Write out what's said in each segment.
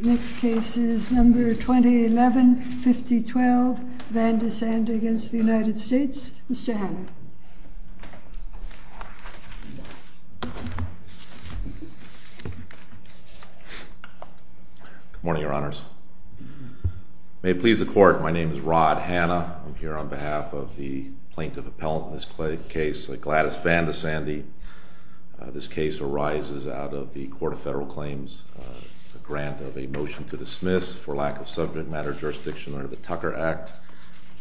Next case is number 2011-5012, VANDESANDE v. United States. Mr. Hanna. Good morning, Your Honors. May it please the Court, my name is Rod Hanna. I'm here on behalf of the Plaintiff Appellant in this case, Gladys VANDESANDE. This case arises out of the Court of Federal Claims' grant of a motion to dismiss for lack of subject matter jurisdiction under the Tucker Act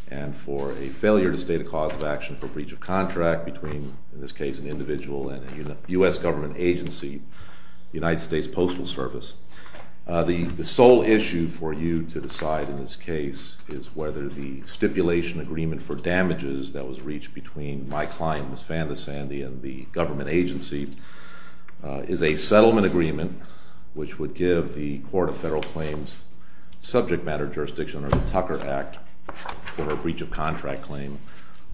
and for a failure to state a cause of action for breach of contract between, in this case, an individual and a U.S. government agency, the United States Postal Service. The sole issue for you to decide in this case is whether the stipulation agreement for damages that was reached between my client, Ms. VANDESANDE, and the government agency is a settlement agreement which would give the Court of Federal Claims subject matter jurisdiction under the Tucker Act for a breach of contract claim,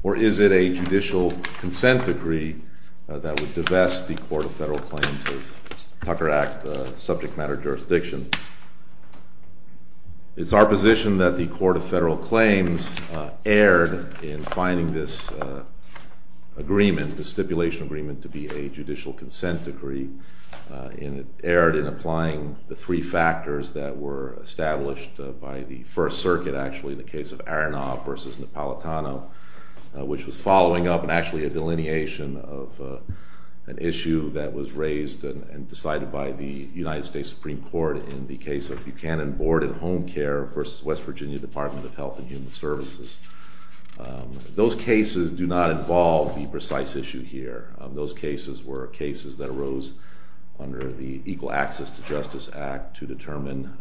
or is it a judicial consent decree that would divest the Court of Federal Claims of Tucker Act subject matter jurisdiction. It's our position that the Court of Federal Claims erred in finding this agreement, this stipulation agreement, to be a judicial consent decree. And it erred in applying the three factors that were established by the First Circuit, actually, in the case of Aronoff v. Napolitano, which was following up and actually a delineation of an issue that was raised and decided by the United States Supreme Court in the case of Buchanan Board and Home Care v. West Virginia Department of Health and Human Services. Those cases do not involve the precise issue here. Those cases were cases that arose under the Equal Access to Justice Act to determine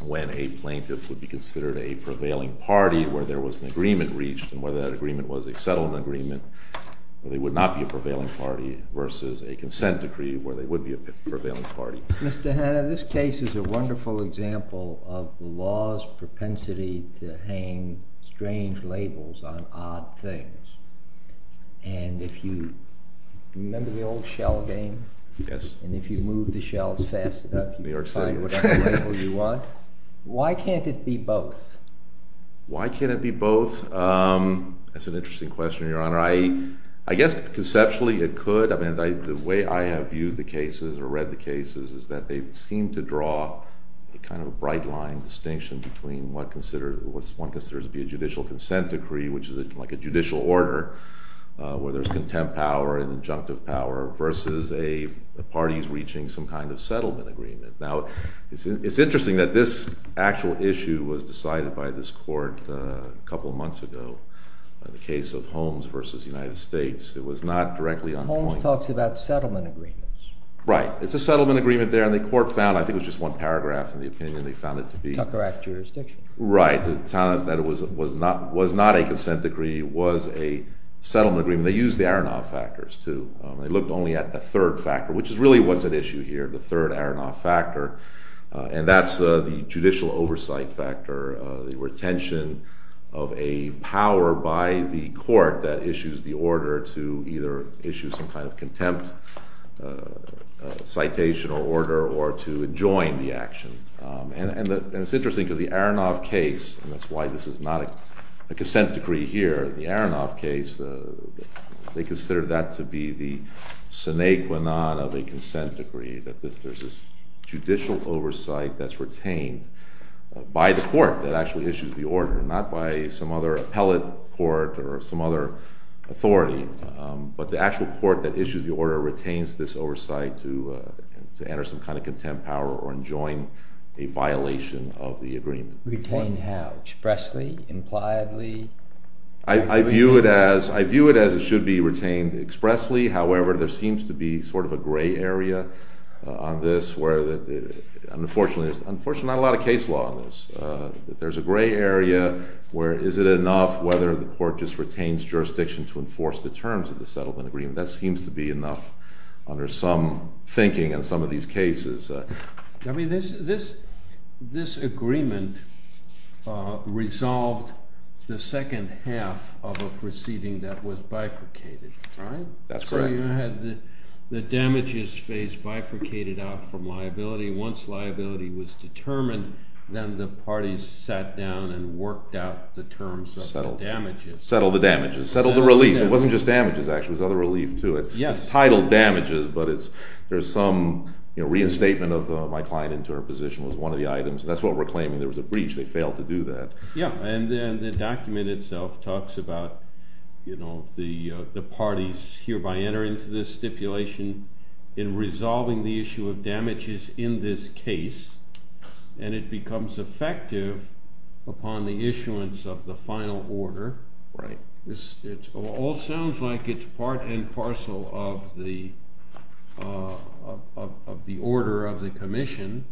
when a plaintiff would be considered a prevailing party, where there was an agreement reached, and whether that agreement was a settlement agreement where they would not be a prevailing party, versus a consent decree where they would be a prevailing party. Mr. Hanna, this case is a wonderful example of the law's propensity to hang strange labels on odd things. And if you remember the old shell game? Yes. And if you move the shells fast enough, you can find whatever label you want. Why can't it be both? Why can't it be both? That's an interesting question, Your Honor. I guess conceptually it could. The way I have viewed the cases or read the cases is that they seem to draw a kind of a bright line distinction between what one considers to be a judicial consent decree, which is like a judicial order where there's contempt power and injunctive power, versus a party's reaching some kind of settlement agreement. Now, it's interesting that this actual issue was decided by this court a couple months ago, the case of Holmes v. United States. It was not directly on point. Holmes talks about settlement agreements. Right. It's a settlement agreement there, and the court found—I think it was just one paragraph in the opinion—they found it to be— Tucker Act jurisdiction. Right. It found that it was not a consent decree. It was a settlement agreement. They used the Aronoff factors, too. They looked only at the third factor, which is really what's at issue here, the third Aronoff factor, and that's the judicial oversight factor, the retention of a power by the court that issues the order to either issue some kind of contempt citation or order or to adjoin the action. And it's interesting because the Aronoff case—and that's why this is not a consent decree here—the Aronoff case, they consider that to be the sine qua non of a consent decree, that there's this judicial oversight that's retained by the court that actually issues the order, not by some other appellate court or some other authority. But the actual court that issues the order retains this oversight to enter some kind of contempt power or adjoin a violation of the agreement. Retain how? Expressly? Impliedly? I view it as it should be retained expressly. However, there seems to be sort of a gray area on this where—unfortunately, there's not a lot of case law on this. There's a gray area where is it enough whether the court just retains jurisdiction to enforce the terms of the settlement agreement. That seems to be enough under some thinking in some of these cases. I mean, this agreement resolved the second half of a proceeding that was bifurcated, right? That's correct. No, you had the damages phase bifurcated out from liability. Once liability was determined, then the parties sat down and worked out the terms of the damages. Settled the damages. Settled the relief. It wasn't just damages, actually. It was other relief, too. It's titled damages, but there's some reinstatement of my client into her position was one of the items. That's what we're claiming. There was a breach. They failed to do that. Yeah, and the document itself talks about the parties hereby entering into this stipulation in resolving the issue of damages in this case, and it becomes effective upon the issuance of the final order. Right. It all sounds like it's part and parcel of the order of the commission.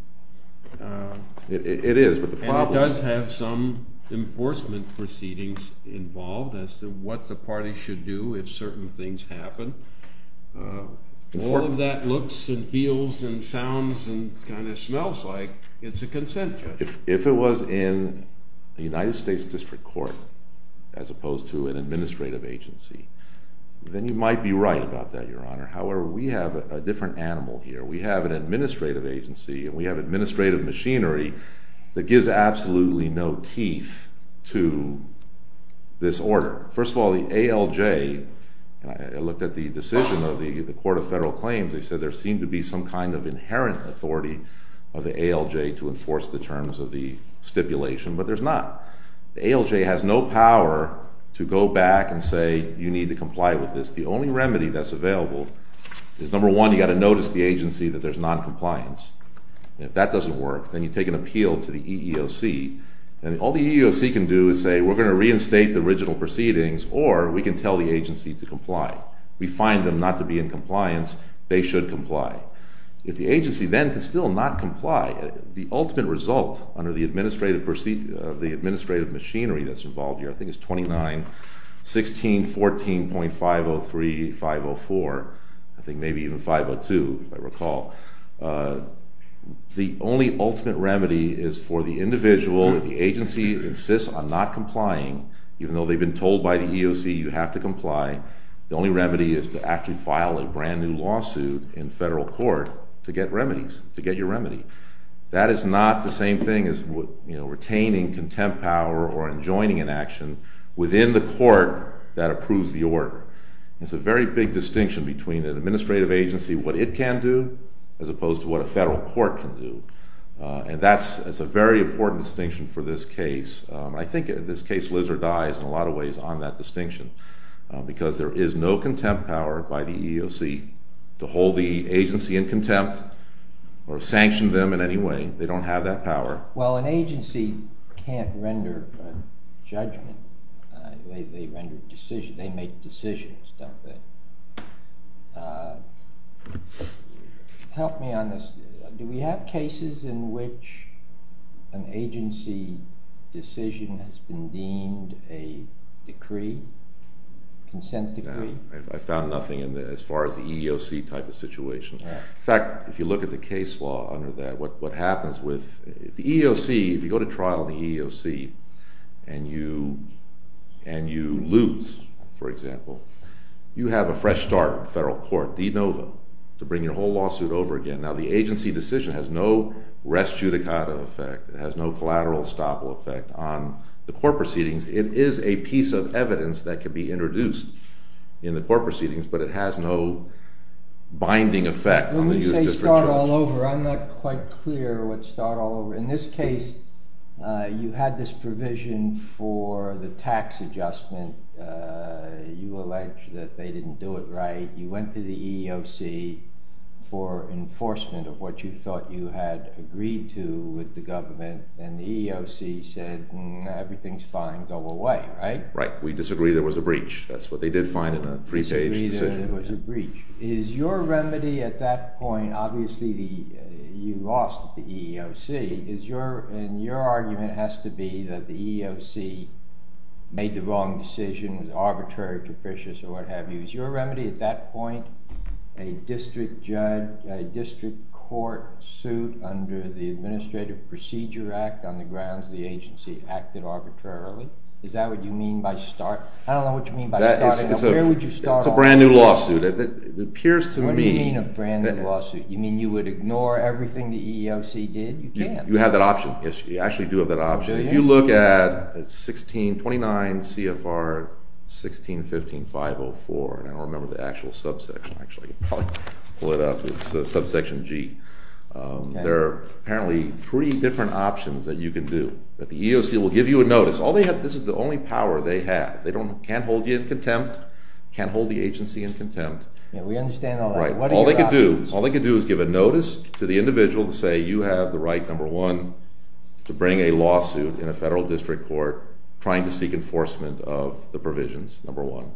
It is, but the problem— It does have some enforcement proceedings involved as to what the party should do if certain things happen. All of that looks and feels and sounds and kind of smells like it's a consent judgment. If it was in the United States District Court as opposed to an administrative agency, then you might be right about that, Your Honor. However, we have a different animal here. We have an administrative agency, and we have administrative machinery that gives absolutely no teeth to this order. First of all, the ALJ—I looked at the decision of the Court of Federal Claims. They said there seemed to be some kind of inherent authority of the ALJ to enforce the terms of the stipulation, but there's not. The ALJ has no power to go back and say you need to comply with this. The only remedy that's available is, number one, you've got to notice the agency that there's noncompliance. If that doesn't work, then you take an appeal to the EEOC, and all the EEOC can do is say, we're going to reinstate the original proceedings or we can tell the agency to comply. We find them not to be in compliance. They should comply. If the agency then can still not comply, the ultimate result under the administrative machinery that's involved here, I think it's 29-16-14.503-504, I think maybe even 502 if I recall, the only ultimate remedy is for the individual, if the agency insists on not complying, even though they've been told by the EEOC you have to comply, the only remedy is to actually file a brand-new lawsuit in federal court to get remedies, to get your remedy. That is not the same thing as retaining contempt power or enjoining an action within the court that approves the order. It's a very big distinction between an administrative agency, what it can do, as opposed to what a federal court can do. And that's a very important distinction for this case. I think in this case Lizzer dies in a lot of ways on that distinction because there is no contempt power by the EEOC to hold the agency in contempt or sanction them in any way. They don't have that power. Well, an agency can't render judgment. They make decisions, don't they? Help me on this. Do we have cases in which an agency decision has been deemed a decree, consent decree? I found nothing as far as the EEOC type of situation. In fact, if you look at the case law under that, what happens with the EEOC, if you go to trial in the EEOC and you lose, for example, you have a fresh start in federal court, de novo, to bring your whole lawsuit over again. Now, the agency decision has no res judicata effect. It has no collateral estoppel effect on the court proceedings. It is a piece of evidence that can be introduced in the court proceedings, but it has no binding effect. When you say start all over, I'm not quite clear what start all over. In this case, you had this provision for the tax adjustment. You allege that they didn't do it right. You went to the EEOC for enforcement of what you thought you had agreed to with the government, and the EEOC said, everything's fine. Go away, right? Right. We disagree there was a breach. That's what they did find in a three-page decision. Disagree there was a breach. Is your remedy at that point, obviously you lost the EEOC, and your argument has to be that the EEOC made the wrong decision, was arbitrary, capricious, or what have you. Is your remedy at that point a district court suit under the Administrative Procedure Act on the grounds the agency acted arbitrarily? Is that what you mean by start? I don't know what you mean by start. It's a brand new lawsuit. What do you mean a brand new lawsuit? You mean you would ignore everything the EEOC did? You have that option. You actually do have that option. If you look at 1629 CFR 1615.504, and I don't remember the actual subsection. I can probably pull it up. It's subsection G. There are apparently three different options that you can do. The EEOC will give you a notice. This is the only power they have. They can't hold you in contempt, can't hold the agency in contempt. We understand all that. All they can do is give a notice to the individual to say, you have the right, number one, to bring a lawsuit in a federal district court trying to seek enforcement of the provisions, number one.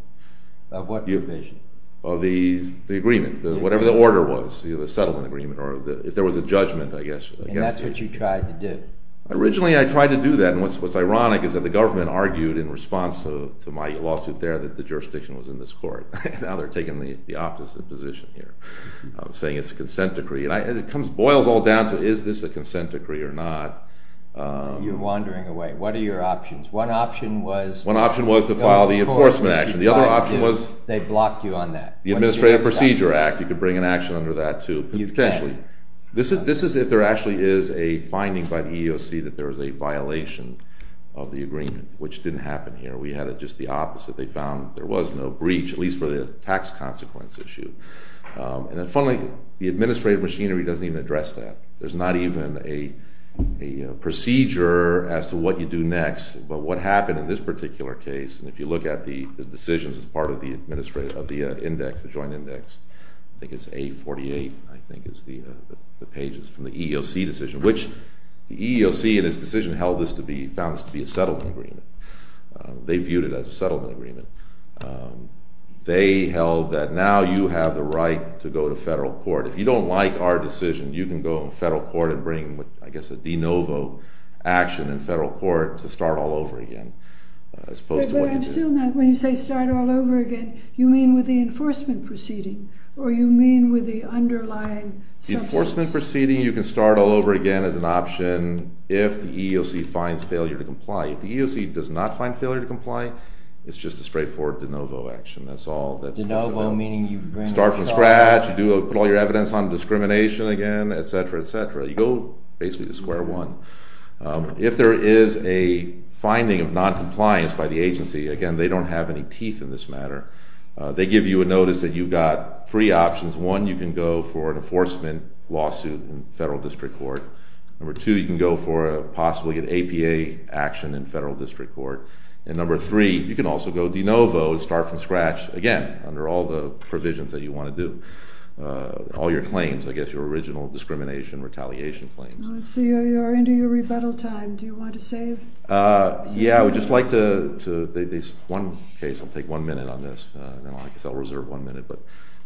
Of what provisions? Of the agreement, whatever the order was, the settlement agreement, or if there was a judgment, I guess. And that's what you tried to do? Originally, I tried to do that. What's ironic is that the government argued in response to my lawsuit there that the jurisdiction was in this court. Now they're taking the opposite position here, saying it's a consent decree. It boils all down to is this a consent decree or not. You're wandering away. What are your options? One option was to file the enforcement action. The other option was they blocked you on that. The Administrative Procedure Act, you could bring an action under that, too. Potentially. This is if there actually is a finding by the EEOC that there was a violation of the agreement, which didn't happen here. We had just the opposite. They found there was no breach, at least for the tax consequence issue. And then finally, the administrative machinery doesn't even address that. There's not even a procedure as to what you do next, but what happened in this particular case, and if you look at the decisions as part of the Joint Index, I think it's A48, I think is the pages from the EEOC decision, which the EEOC in its decision found this to be a settlement agreement. They viewed it as a settlement agreement. They held that now you have the right to go to federal court. If you don't like our decision, you can go to federal court and bring, I guess, a de novo action in federal court to start all over again, as opposed to what you do. But I'm still not, when you say start all over again, you mean with the enforcement proceeding, or you mean with the underlying substance? The enforcement proceeding, you can start all over again as an option if the EEOC finds failure to comply. If the EEOC does not find failure to comply, it's just a straightforward de novo action. That's all. De novo, meaning you bring it all over? Start from scratch. You put all your evidence on discrimination again, et cetera, et cetera. You go basically to square one. If there is a finding of noncompliance by the agency, again, they don't have any teeth in this matter, they give you a notice that you've got three options. One, you can go for an enforcement lawsuit in federal district court. Number two, you can go for possibly an APA action in federal district court. And number three, you can also go de novo, start from scratch, again, under all the provisions that you want to do. All your claims, I guess, your original discrimination, retaliation claims. I see you're into your rebuttal time. Do you want to save? Yeah, I would just like to, one case, I'll take one minute on this. I guess I'll reserve one minute.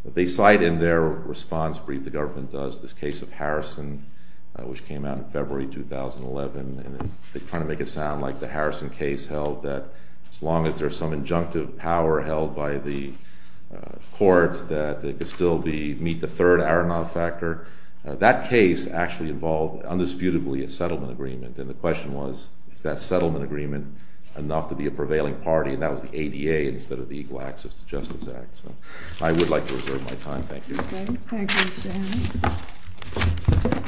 They cite in their response brief, the government does, this case of Harrison, which came out in February 2011, and they kind of make it sound like the Harrison case held that as long as there's some injunctive power held by the court, that it could still meet the third Aronoff factor. That case actually involved, undisputably, a settlement agreement. And the question was, is that settlement agreement enough to be a prevailing party? And that was the ADA instead of the Equal Access to Justice Act. So I would like to reserve my time. Thank you. Thank you, Mr.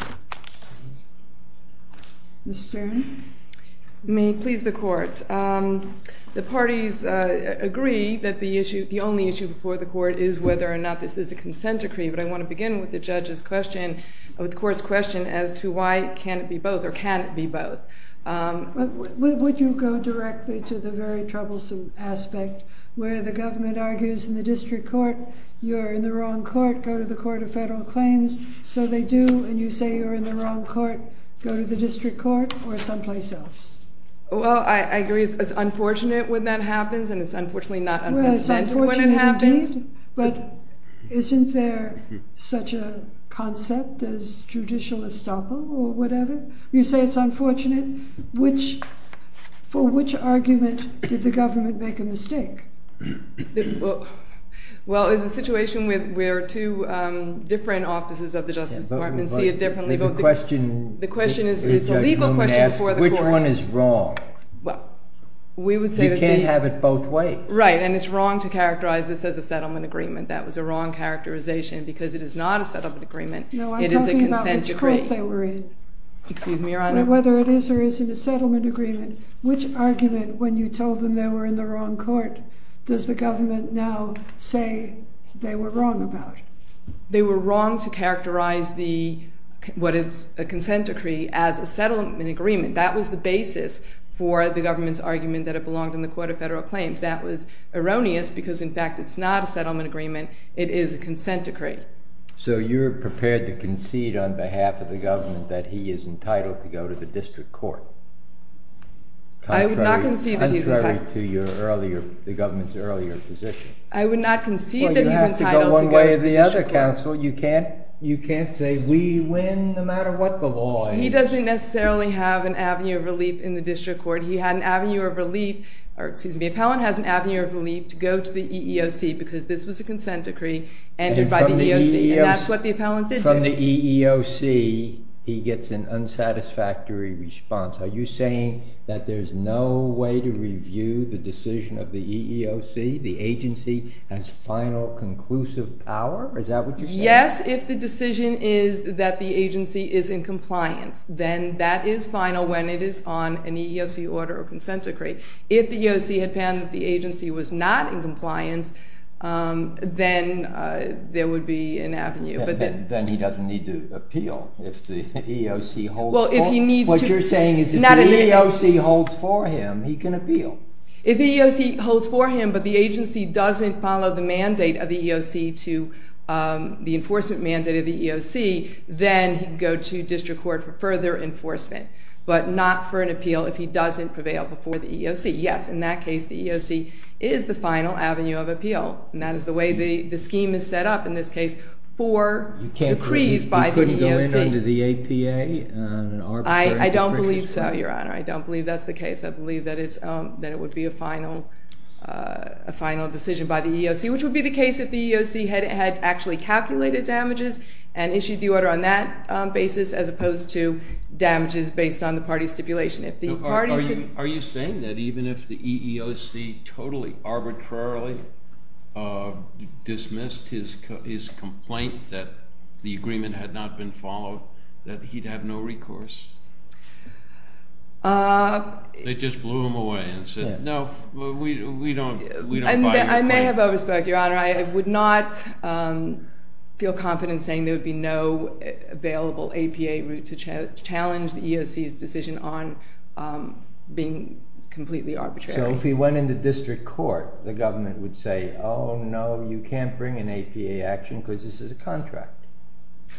Hammond. Ms. Stern? May it please the court, the parties agree that the issue, the only issue before the court is whether or not this is a consent decree. But I want to begin with the court's question as to why can't it be both, or can it be both. Would you go directly to the very troublesome aspect where the government argues in the district court, you're in the wrong court, go to the Court of Federal Claims. So they do, and you say you're in the wrong court, go to the district court or someplace else. Well, I agree it's unfortunate when that happens, and it's unfortunately not un-consented when it happens. But isn't there such a concept as judicial estoppel or whatever? You say it's unfortunate. For which argument did the government make a mistake? Well, it's a situation where two different offices of the Justice Department see it differently. The question is, it's a legal question before the court. Which one is wrong? You can't have it both ways. Right, and it's wrong to characterize this as a settlement agreement. That was a wrong characterization because it is not a settlement agreement. Excuse me, Your Honor. Whether it is or isn't a settlement agreement, which argument when you told them they were in the wrong court does the government now say they were wrong about? They were wrong to characterize what is a consent decree as a settlement agreement. That was the basis for the government's argument that it belonged in the Court of Federal Claims. That was erroneous because, in fact, it's not a settlement agreement. It is a consent decree. So you're prepared to concede on behalf of the government that he is entitled to go to the district court? I would not concede that he's entitled. Contrary to the government's earlier position. I would not concede that he's entitled to go to the district court. Well, you have to go one way or the other, counsel. You can't say we win no matter what the law is. He doesn't necessarily have an avenue of relief in the district court. He had an avenue of relief, or excuse me, the appellant has an avenue of relief to go to the EEOC because this was a consent decree entered by the EEOC. And that's what the appellant did to him. When the EEOC, he gets an unsatisfactory response. Are you saying that there's no way to review the decision of the EEOC? The agency has final conclusive power? Is that what you're saying? Yes, if the decision is that the agency is in compliance, then that is final when it is on an EEOC order or consent decree. If the EEOC had found that the agency was not in compliance, then there would be an avenue. Then he doesn't need to appeal if the EEOC holds for him. What you're saying is if the EEOC holds for him, he can appeal. If the EEOC holds for him, but the agency doesn't follow the mandate of the EEOC to the enforcement mandate of the EEOC, then he can go to district court for further enforcement, but not for an appeal if he doesn't prevail before the EEOC. Yes, in that case the EEOC is the final avenue of appeal, and that is the way the scheme is set up in this case for decrees by the EEOC. You couldn't go in under the APA? I don't believe so, Your Honor. I don't believe that's the case. I believe that it would be a final decision by the EEOC, which would be the case if the EEOC had actually calculated damages and issued the order on that basis as opposed to damages based on the party stipulation. Are you saying that even if the EEOC totally arbitrarily dismissed his complaint that the agreement had not been followed, that he'd have no recourse? They just blew him away and said, no, we don't buy your complaint. I may have overspoken, Your Honor. I would not feel confident saying there would be no available APA route to challenge the EEOC's decision on being completely arbitrary. So if he went into district court, the government would say, oh, no, you can't bring an APA action because this is a contract.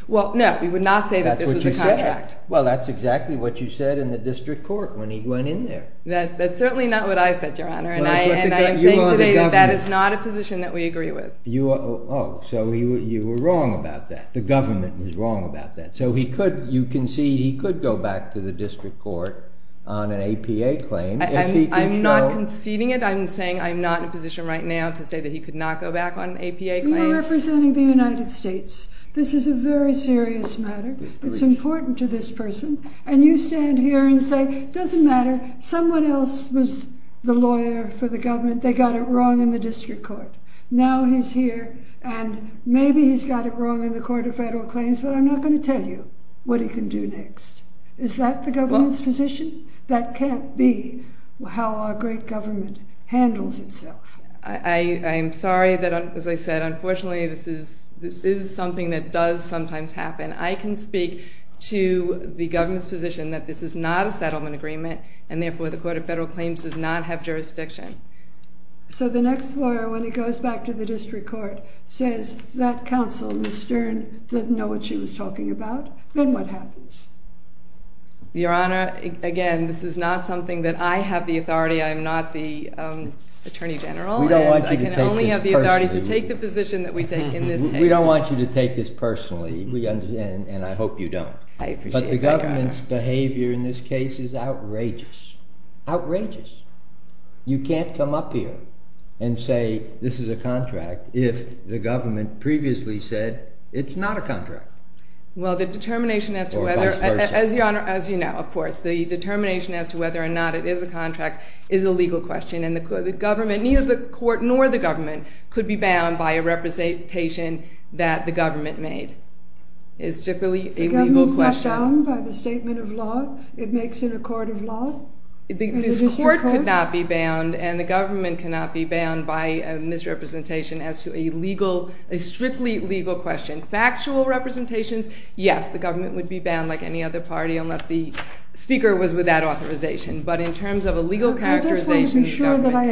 Well, no, we would not say that this was a contract. Well, that's exactly what you said in the district court when he went in there. That's certainly not what I said, Your Honor, and I am saying today that that is not a position that we agree with. Oh, so you were wrong about that. The government was wrong about that. So you concede he could go back to the district court on an APA claim. I'm not conceding it. I'm saying I'm not in a position right now to say that he could not go back on an APA claim. You are representing the United States. This is a very serious matter. It's important to this person. And you stand here and say it doesn't matter. Someone else was the lawyer for the government. They got it wrong in the district court. Now he's here, and maybe he's got it wrong in the court of federal claims, but I'm not going to tell you what he can do next. Is that the government's position? That can't be how our great government handles itself. I am sorry that, as I said, unfortunately this is something that does sometimes happen. I can speak to the government's position that this is not a settlement agreement, and therefore the court of federal claims does not have jurisdiction. So the next lawyer, when he goes back to the district court, says that counsel, Ms. Stern, didn't know what she was talking about. Then what happens? Your Honor, again, this is not something that I have the authority. I am not the attorney general, and I can only have the authority to take the position that we take in this case. We don't want you to take this personally, and I hope you don't. But the government's behavior in this case is outrageous. Outrageous. You can't come up here and say this is a contract if the government previously said it's not a contract. Well, the determination as to whether, as you know, of course, the determination as to whether or not it is a contract is a legal question, and neither the court nor the government could be bound by a representation that the government made. It is strictly a legal question. The government's not bound by the statement of law? It makes an accord of law? This court could not be bound, and the government cannot be bound by a misrepresentation as to a strictly legal question. Factual representations, yes, the government would be bound like any other party unless the speaker was without authorization. But in terms of a legal characterization, the government cannot. I just want to be sure that I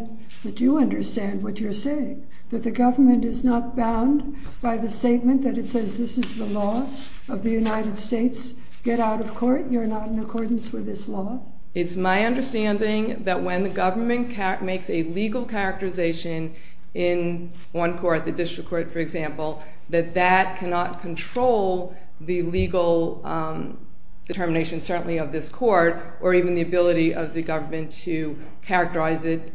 understand, that you understand what you're saying, that the government is not bound by the statement that it says this is the law of the United States. Get out of court. You're not in accordance with this law. It's my understanding that when the government makes a legal characterization in one court, the district court, for example, that that cannot control the legal determination, certainly of this court, or even the ability of the government to characterize it,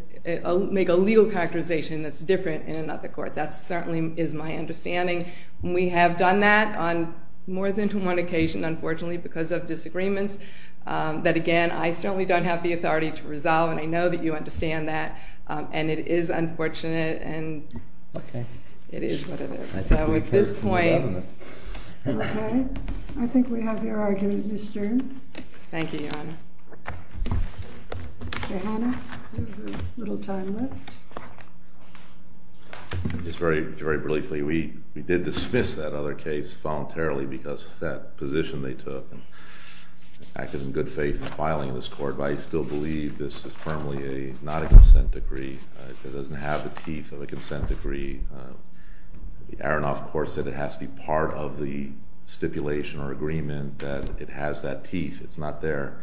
make a legal characterization that's different in another court. That certainly is my understanding. We have done that on more than one occasion, unfortunately, because of disagreements that, again, I certainly don't have the authority to resolve, and I know that you understand that, and it is unfortunate, and it is what it is. So at this point... Okay. I think we have your argument, Ms. Stern. Thank you, Your Honor. Mr. Hanna, we have a little time left. Just very briefly, we did dismiss that other case voluntarily because of that position they took, and acted in good faith in filing this court, but I still believe this is firmly not a consent decree. It doesn't have the teeth of a consent decree. The Aronoff Court said it has to be part of the stipulation or agreement that it has that teeth. It's not there.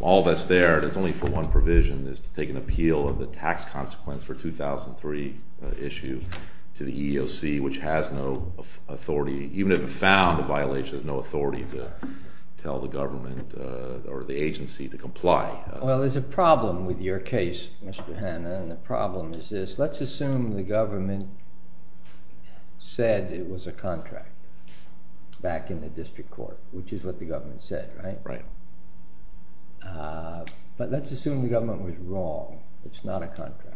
All that's there, and it's only for one provision, is to take an appeal of the tax consequence for 2003 issue to the EEOC, which has no authority. Even if it found a violation, which has no authority to tell the government or the agency to comply. Well, there's a problem with your case, Mr. Hanna, and the problem is this. Let's assume the government said it was a contract back in the district court, which is what the government said, right? Right. But let's assume the government was wrong. It's not a contract.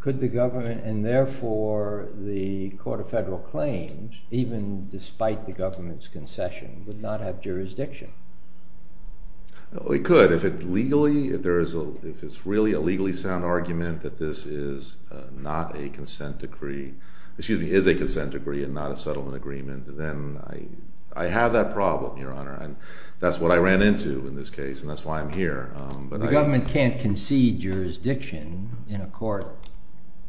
Could the government, and therefore the Court of Federal Claims, even despite the government's concession, would not have jurisdiction? It could. If it's really a legally sound argument that this is not a consent decree, excuse me, is a consent decree and not a settlement agreement, then I have that problem, Your Honor. That's what I ran into in this case, and that's why I'm here. The government can't concede jurisdiction in a court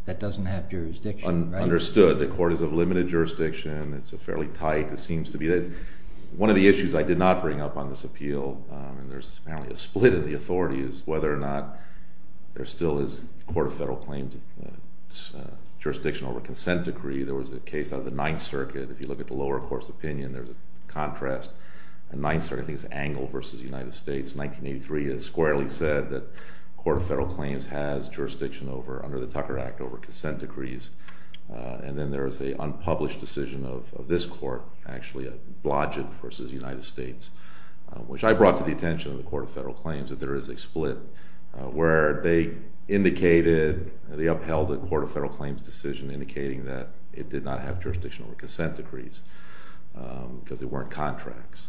that doesn't have jurisdiction, right? It's well understood. The court is of limited jurisdiction. It's fairly tight. One of the issues I did not bring up on this appeal, and there's apparently a split in the authorities, whether or not there still is the Court of Federal Claims' jurisdiction over a consent decree. There was a case out of the Ninth Circuit. If you look at the lower court's opinion, there's a contrast. The Ninth Circuit, I think it's Angle v. United States, 1983, has squarely said that the Court of Federal Claims has jurisdiction under the Tucker Act over consent decrees, and then there is an unpublished decision of this court, actually Blodgett v. United States, which I brought to the attention of the Court of Federal Claims that there is a split where they upheld the Court of Federal Claims' decision indicating that it did not have jurisdiction over consent decrees because there weren't contracts.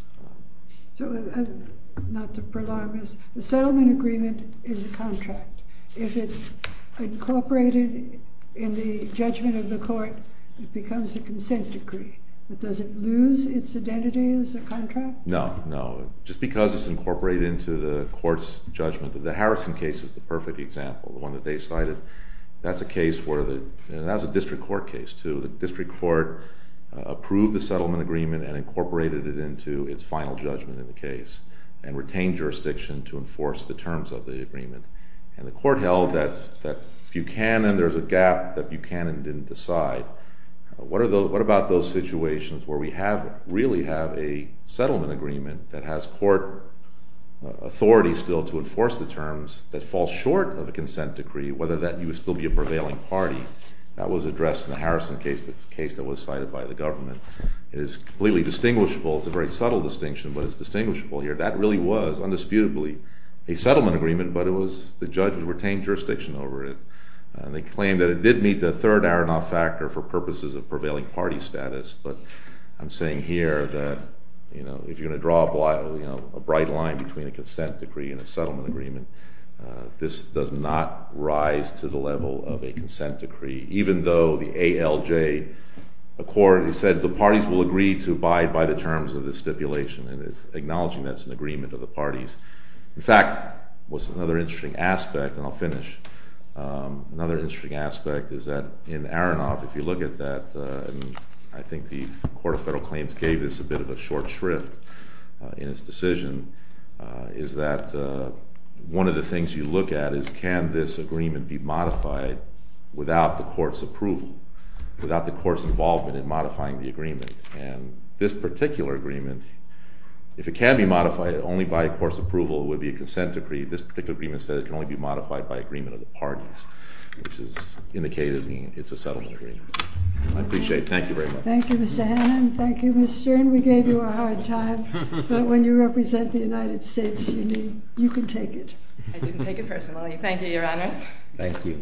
Not to prolong this, the settlement agreement is a contract. If it's incorporated in the judgment of the court, it becomes a consent decree. Does it lose its identity as a contract? No, no. Just because it's incorporated into the court's judgment. The Harrison case is the perfect example, the one that they cited. That's a case where the—and that's a district court case, too. The district court approved the settlement agreement and incorporated it into its final judgment in the case and retained jurisdiction to enforce the terms of the agreement, and the court held that there's a gap that Buchanan didn't decide. What about those situations where we really have a settlement agreement that has court authority still to enforce the terms that falls short of a consent decree, whether that would still be a prevailing party? That was addressed in the Harrison case, the case that was cited by the government. It is completely distinguishable. It's a very subtle distinction, but it's distinguishable here. That really was, undisputably, a settlement agreement, but the judges retained jurisdiction over it. They claimed that it did meet the third Aronoff factor for purposes of prevailing party status, but I'm saying here that if you're going to draw a bright line between a consent decree and a settlement agreement, this does not rise to the level of a consent decree, even though the ALJ said the parties will agree to abide by the terms of the stipulation and is acknowledging that's an agreement of the parties. In fact, what's another interesting aspect, and I'll finish, another interesting aspect is that in Aronoff, if you look at that, I think the Court of Federal Claims gave this a bit of a short shrift in its decision, is that one of the things you look at is can this agreement be modified without the court's approval, without the court's involvement in modifying the agreement. And this particular agreement, if it can be modified, only by a court's approval would be a consent decree. This particular agreement said it can only be modified by agreement of the parties, which is indicating it's a settlement agreement. I appreciate it. Thank you very much. Thank you, Mr. Hannan. Thank you, Mr. Stern. We gave you a hard time, but when you represent the United States, you can take it. I didn't take it personally. Thank you, Your Honors. Thank you.